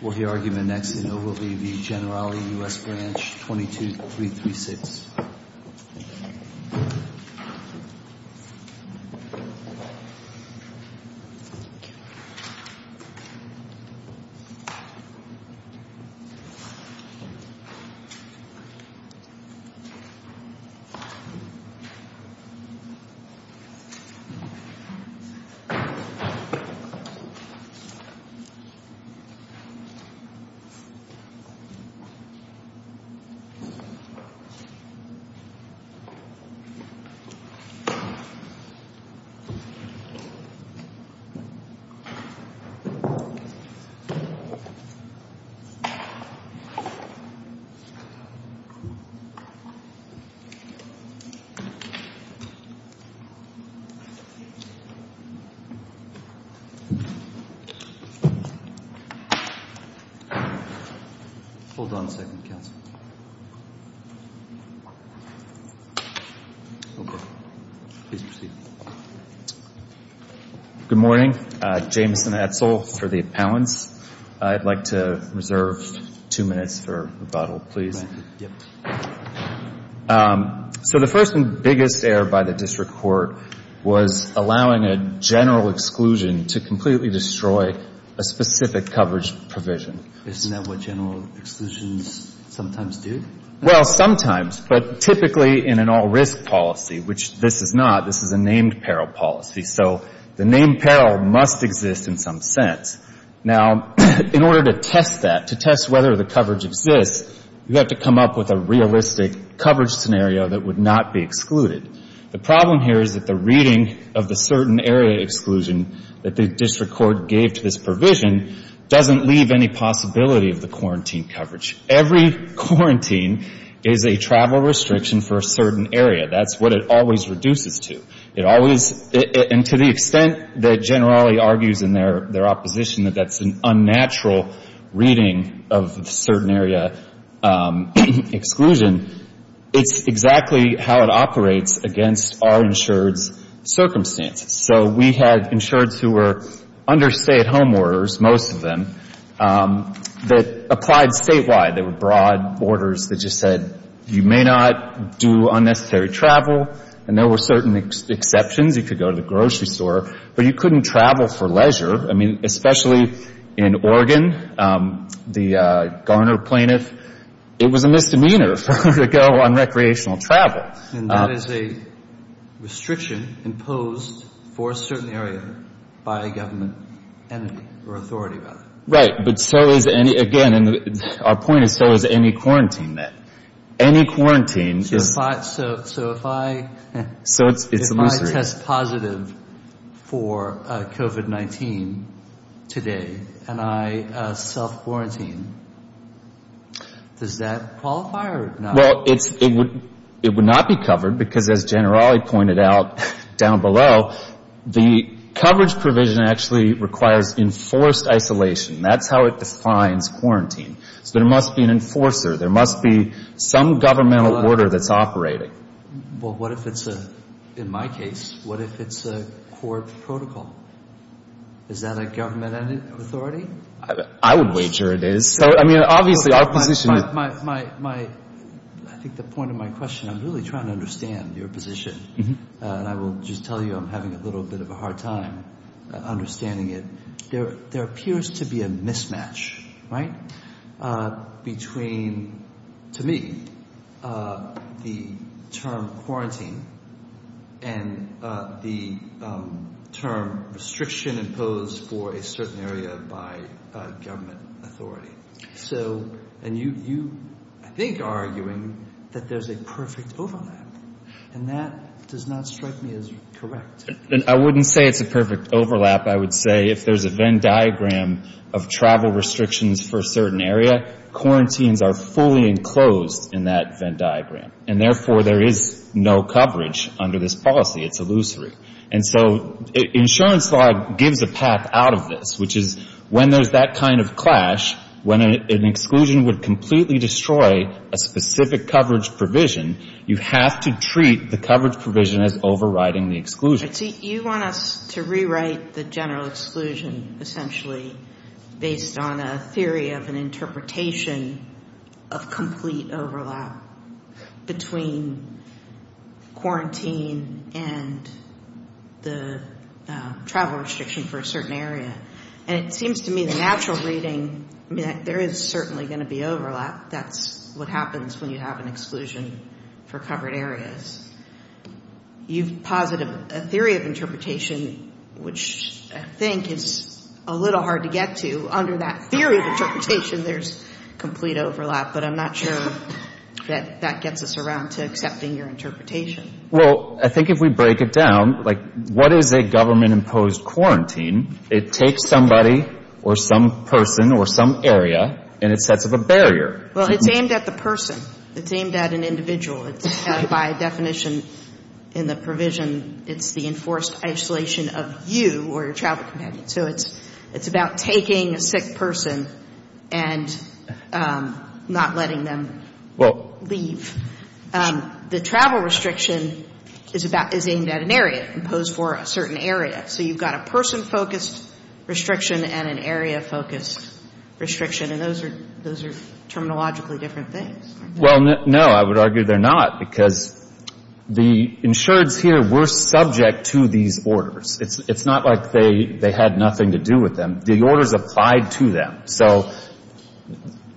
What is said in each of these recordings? We'll hear argument next and it will be the Generali U.S. Branch 22336. We'll hear argument next and it will be the Generali U.S. Branch 22336. Hold on a second, counsel. Please proceed. Good morning. Jameson Etzel for the appellants. I'd like to reserve two minutes for rebuttal, please. Thank you. So the first and biggest error by the district court was allowing a general exclusion to completely destroy a specific coverage provision. Isn't that what general exclusions sometimes do? Well, sometimes, but typically in an all-risk policy, which this is not. This is a named peril policy, so the named peril must exist in some sense. Now, in order to test that, to test whether the coverage exists, you have to come up with a realistic coverage scenario that would not be excluded. The problem here is that the reading of the certain area exclusion that the district court gave to this provision doesn't leave any possibility of the quarantine coverage. Every quarantine is a travel restriction for a certain area. That's what it always reduces to. And to the extent that General Ali argues in their opposition that that's an unnatural reading of certain area exclusion, it's exactly how it operates against our insured's circumstances. So we had insureds who were under stay-at-home orders, most of them, that applied statewide. There were broad orders that just said you may not do unnecessary travel, and there were certain exceptions. You could go to the grocery store, but you couldn't travel for leisure. I mean, especially in Oregon, the Garner plaintiff, it was a misdemeanor for her to go on recreational travel. And that is a restriction imposed for a certain area by a government entity or authority, rather. Right, but so is any – again, our point is so is any quarantine then. Any quarantine is – So if I – So it's illusory. If I test positive for COVID-19 today and I self-quarantine, does that qualify or not? Well, it would not be covered because, as General Ali pointed out down below, the coverage provision actually requires enforced isolation. That's how it defines quarantine. So there must be an enforcer. There must be some governmental order that's operating. Well, what if it's a – in my case, what if it's a court protocol? Is that a government authority? I would wager it is. So, I mean, obviously our position is – My – I think the point of my question, I'm really trying to understand your position. And I will just tell you I'm having a little bit of a hard time understanding it. There appears to be a mismatch, right, between, to me, the term quarantine and the term restriction imposed for a certain area by government authority. So – and you, I think, are arguing that there's a perfect overlap. And that does not strike me as correct. I wouldn't say it's a perfect overlap. I would say if there's a Venn diagram of travel restrictions for a certain area, quarantines are fully enclosed in that Venn diagram. And, therefore, there is no coverage under this policy. It's illusory. And so insurance law gives a path out of this, which is when there's that kind of clash, when an exclusion would completely destroy a specific coverage provision, you have to treat the coverage provision as overriding the exclusion. You want us to rewrite the general exclusion essentially based on a theory of an interpretation of complete overlap between quarantine and the travel restriction for a certain area. And it seems to me the natural reading, I mean, there is certainly going to be overlap. That's what happens when you have an exclusion for covered areas. You've posited a theory of interpretation, which I think is a little hard to get to. Under that theory of interpretation, there's complete overlap. But I'm not sure that that gets us around to accepting your interpretation. Well, I think if we break it down, like, what is a government-imposed quarantine? It takes somebody or some person or some area and it sets up a barrier. Well, it's aimed at the person. It's aimed at an individual. By definition in the provision, it's the enforced isolation of you or your travel companion. So it's about taking a sick person and not letting them leave. The travel restriction is aimed at an area, imposed for a certain area. So you've got a person-focused restriction and an area-focused restriction. And those are terminologically different things. Well, no, I would argue they're not, because the insureds here were subject to these orders. It's not like they had nothing to do with them. The orders applied to them. So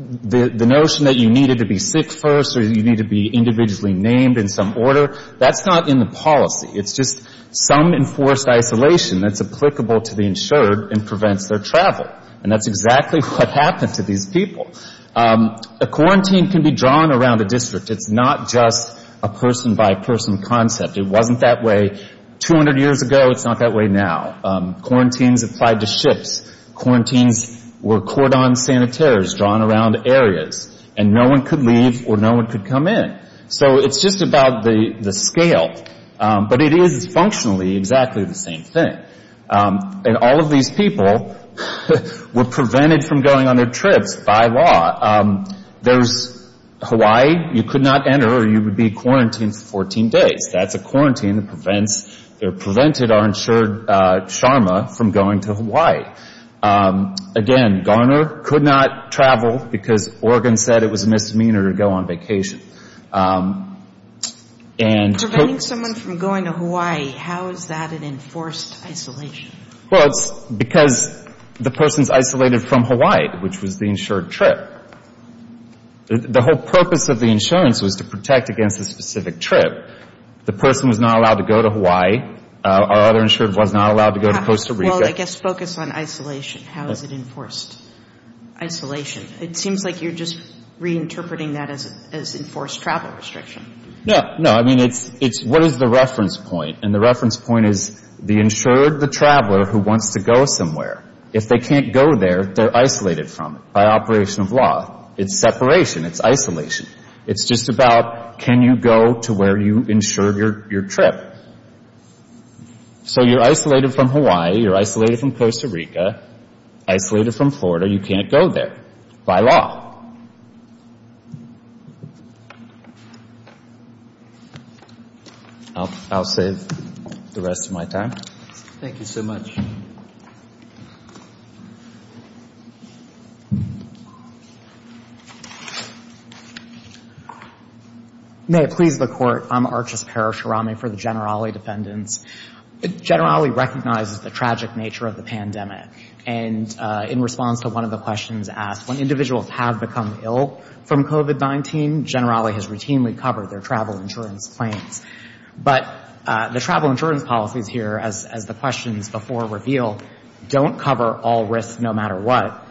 the notion that you needed to be sick first or you need to be individually named in some order, that's not in the policy. It's just some enforced isolation that's applicable to the insured and prevents their travel. And that's exactly what happened to these people. A quarantine can be drawn around a district. It's not just a person-by-person concept. It wasn't that way 200 years ago. It's not that way now. Quarantines applied to ships. Quarantines were cordon sanitaires drawn around areas. And no one could leave or no one could come in. So it's just about the scale. But it is functionally exactly the same thing. And all of these people were prevented from going on their trips by law. There's Hawaii, you could not enter or you would be quarantined for 14 days. That's a quarantine that prevents or prevented our insured Sharma from going to Hawaii. Again, Garner could not travel because Oregon said it was a misdemeanor to go on vacation. Preventing someone from going to Hawaii, how is that an enforced isolation? Well, it's because the person's isolated from Hawaii, which was the insured trip. The whole purpose of the insurance was to protect against a specific trip. The person was not allowed to go to Hawaii. Our other insured was not allowed to go to Costa Rica. Well, I guess focus on isolation. How is it enforced? Isolation. It seems like you're just reinterpreting that as enforced travel restriction. No. No. I mean, it's what is the reference point? And the reference point is the insured, the traveler who wants to go somewhere. If they can't go there, they're isolated from it by operation of law. It's separation. It's isolation. It's just about can you go to where you insured your trip. So you're isolated from Hawaii. You're isolated from Costa Rica. Isolated from Florida. You can't go there by law. I'll save the rest of my time. Thank you so much. May it please the Court, I'm Archus Parasharami for the Generali defendants. Generali recognizes the tragic nature of the pandemic. And in response to one of the questions asked, when individuals have become ill from COVID-19, Generali has routinely covered their travel insurance claims. But the travel insurance policies here, as the questions before reveal, don't cover all risks no matter what.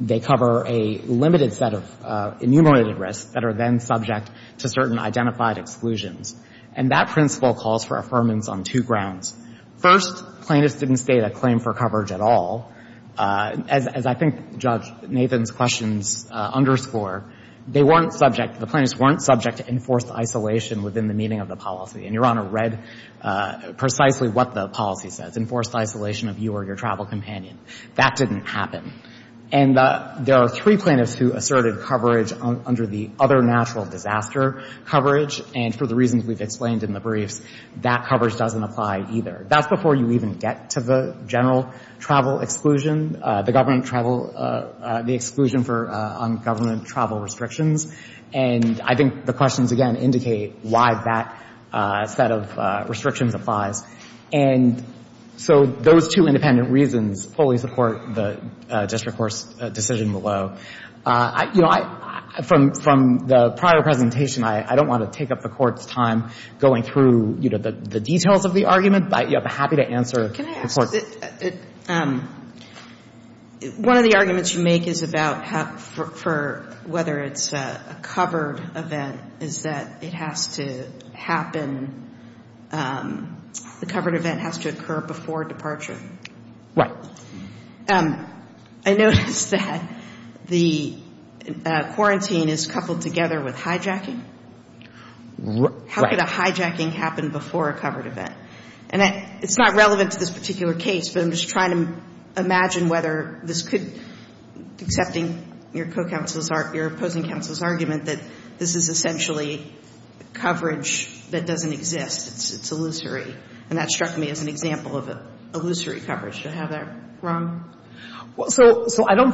They cover a limited set of enumerated risks that are then subject to certain identified exclusions. And that principle calls for affirmance on two grounds. First, plaintiffs didn't state a claim for coverage at all. As I think Judge Nathan's questions underscore, they weren't subject, the plaintiffs weren't subject to enforced isolation within the meaning of the policy. And Your Honor read precisely what the policy says, enforced isolation of you or your travel companion. That didn't happen. And there are three plaintiffs who asserted coverage under the other natural disaster coverage. And for the reasons we've explained in the briefs, that coverage doesn't apply either. That's before you even get to the general travel exclusion, the government travel, the exclusion on government travel restrictions. And I think the questions, again, indicate why that set of restrictions applies. And so those two independent reasons fully support the district court's decision below. You know, from the prior presentation, I don't want to take up the Court's time going through, you know, the details of the argument. But, you know, I'm happy to answer the Court's question. Can I ask, one of the arguments you make is about whether it's a covered event is that it has to happen, the covered event has to occur before departure. Right. I noticed that the quarantine is coupled together with hijacking. Right. How could a hijacking happen before a covered event? And it's not relevant to this particular case, but I'm just trying to imagine whether this could, accepting your opposing counsel's argument that this is essentially coverage that doesn't exist, it's illusory. And that struck me as an example of illusory coverage. Do I have that wrong? Well, so I don't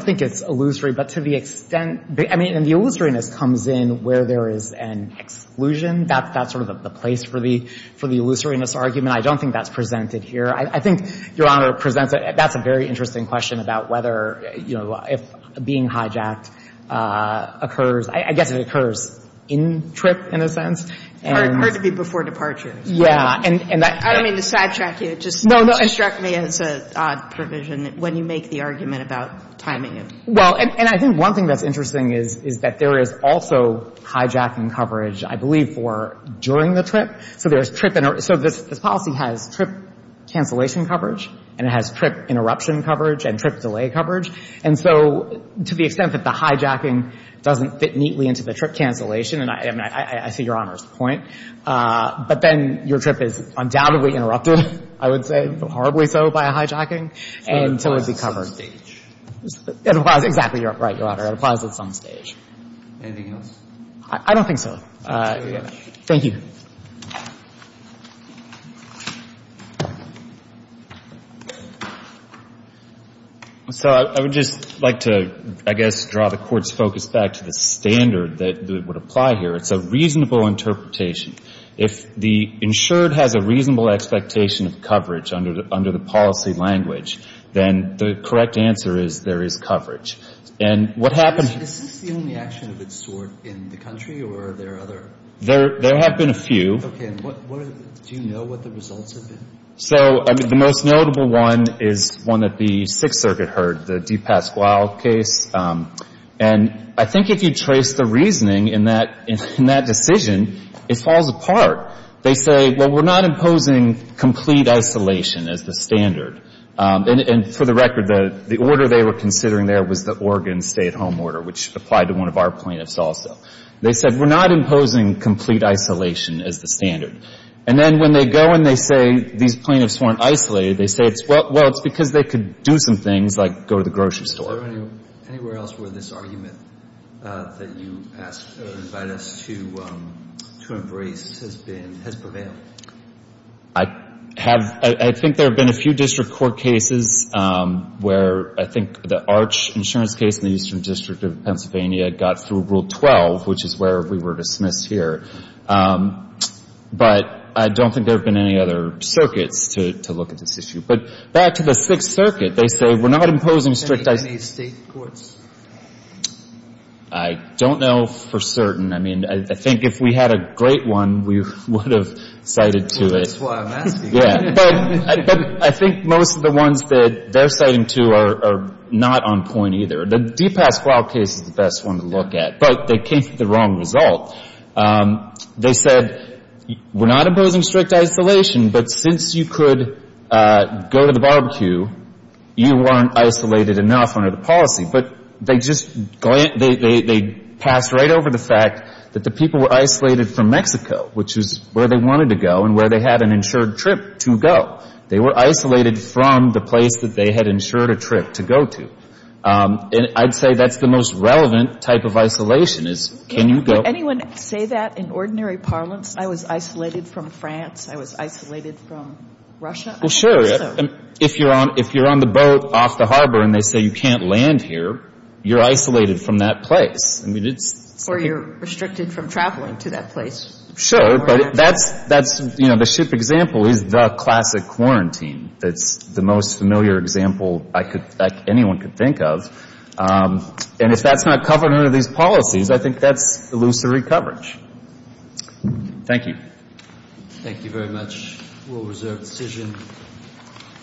think it's illusory. But to the extent, I mean, and the illusoriness comes in where there is an exclusion. That's sort of the place for the illusoriness argument. I don't think that's presented here. I think Your Honor presents it. That's a very interesting question about whether, you know, if being hijacked occurs. I guess it occurs in trip, in a sense. Or it could be before departure. Yeah. I don't mean to sidetrack you. No, no. It just struck me as an odd provision when you make the argument about timing. Well, and I think one thing that's interesting is that there is also hijacking coverage, I believe, for during the trip. So there's trip, so this policy has trip cancellation coverage and it has trip interruption coverage and trip delay coverage. And so to the extent that the hijacking doesn't fit neatly into the trip cancellation, and I see Your Honor's point. But then your trip is undoubtedly interrupted, I would say, horribly so, by a hijacking. And so it would be covered. It applies at some stage. It applies. Exactly right, Your Honor. It applies at some stage. Anything else? I don't think so. Thank you very much. Thank you. So I would just like to, I guess, draw the Court's focus back to the standard that would apply here. It's a reasonable interpretation. If the insured has a reasonable expectation of coverage under the policy language, then the correct answer is there is coverage. And what happens Is this the only action of its sort in the country or are there other? There have been a few. Okay. Do you know what the results have been? So the most notable one is one that the Sixth Circuit heard, the DePasquale case. And I think if you trace the reasoning in that decision, it falls apart. They say, well, we're not imposing complete isolation as the standard. And for the record, the order they were considering there was the Oregon stay-at-home order, which applied to one of our plaintiffs also. They said, we're not imposing complete isolation as the standard. And then when they go and they say these plaintiffs weren't isolated, they say, well, it's because they could do some things like go to the grocery store. Is there anywhere else where this argument that you invite us to embrace has prevailed? I think there have been a few district court cases where I think the Arch insurance case in the Eastern District of Pennsylvania got through Rule 12, which is where we were dismissed here. But I don't think there have been any other circuits to look at this issue. But back to the Sixth Circuit, they say we're not imposing strict isolation. Any state courts? I don't know for certain. I mean, I think if we had a great one, we would have cited to it. That's why I'm asking. Yeah. But I think most of the ones that they're citing to are not on point either. The DePasquale case is the best one to look at. But they came to the wrong result. They said we're not imposing strict isolation. But since you could go to the barbecue, you weren't isolated enough under the policy. But they just passed right over the fact that the people were isolated from Mexico, which is where they wanted to go and where they had an insured trip to go. They were isolated from the place that they had insured a trip to go to. And I'd say that's the most relevant type of isolation is can you go? Would anyone say that in ordinary parlance? I was isolated from France. I was isolated from Russia. Well, sure. If you're on the boat off the harbor and they say you can't land here, you're isolated from that place. Or you're restricted from traveling to that place. Sure. But that's, you know, the ship example is the classic quarantine. It's the most familiar example anyone could think of. And if that's not covered under these policies, I think that's illusory coverage. Thank you. Thank you very much. We'll reserve the decision.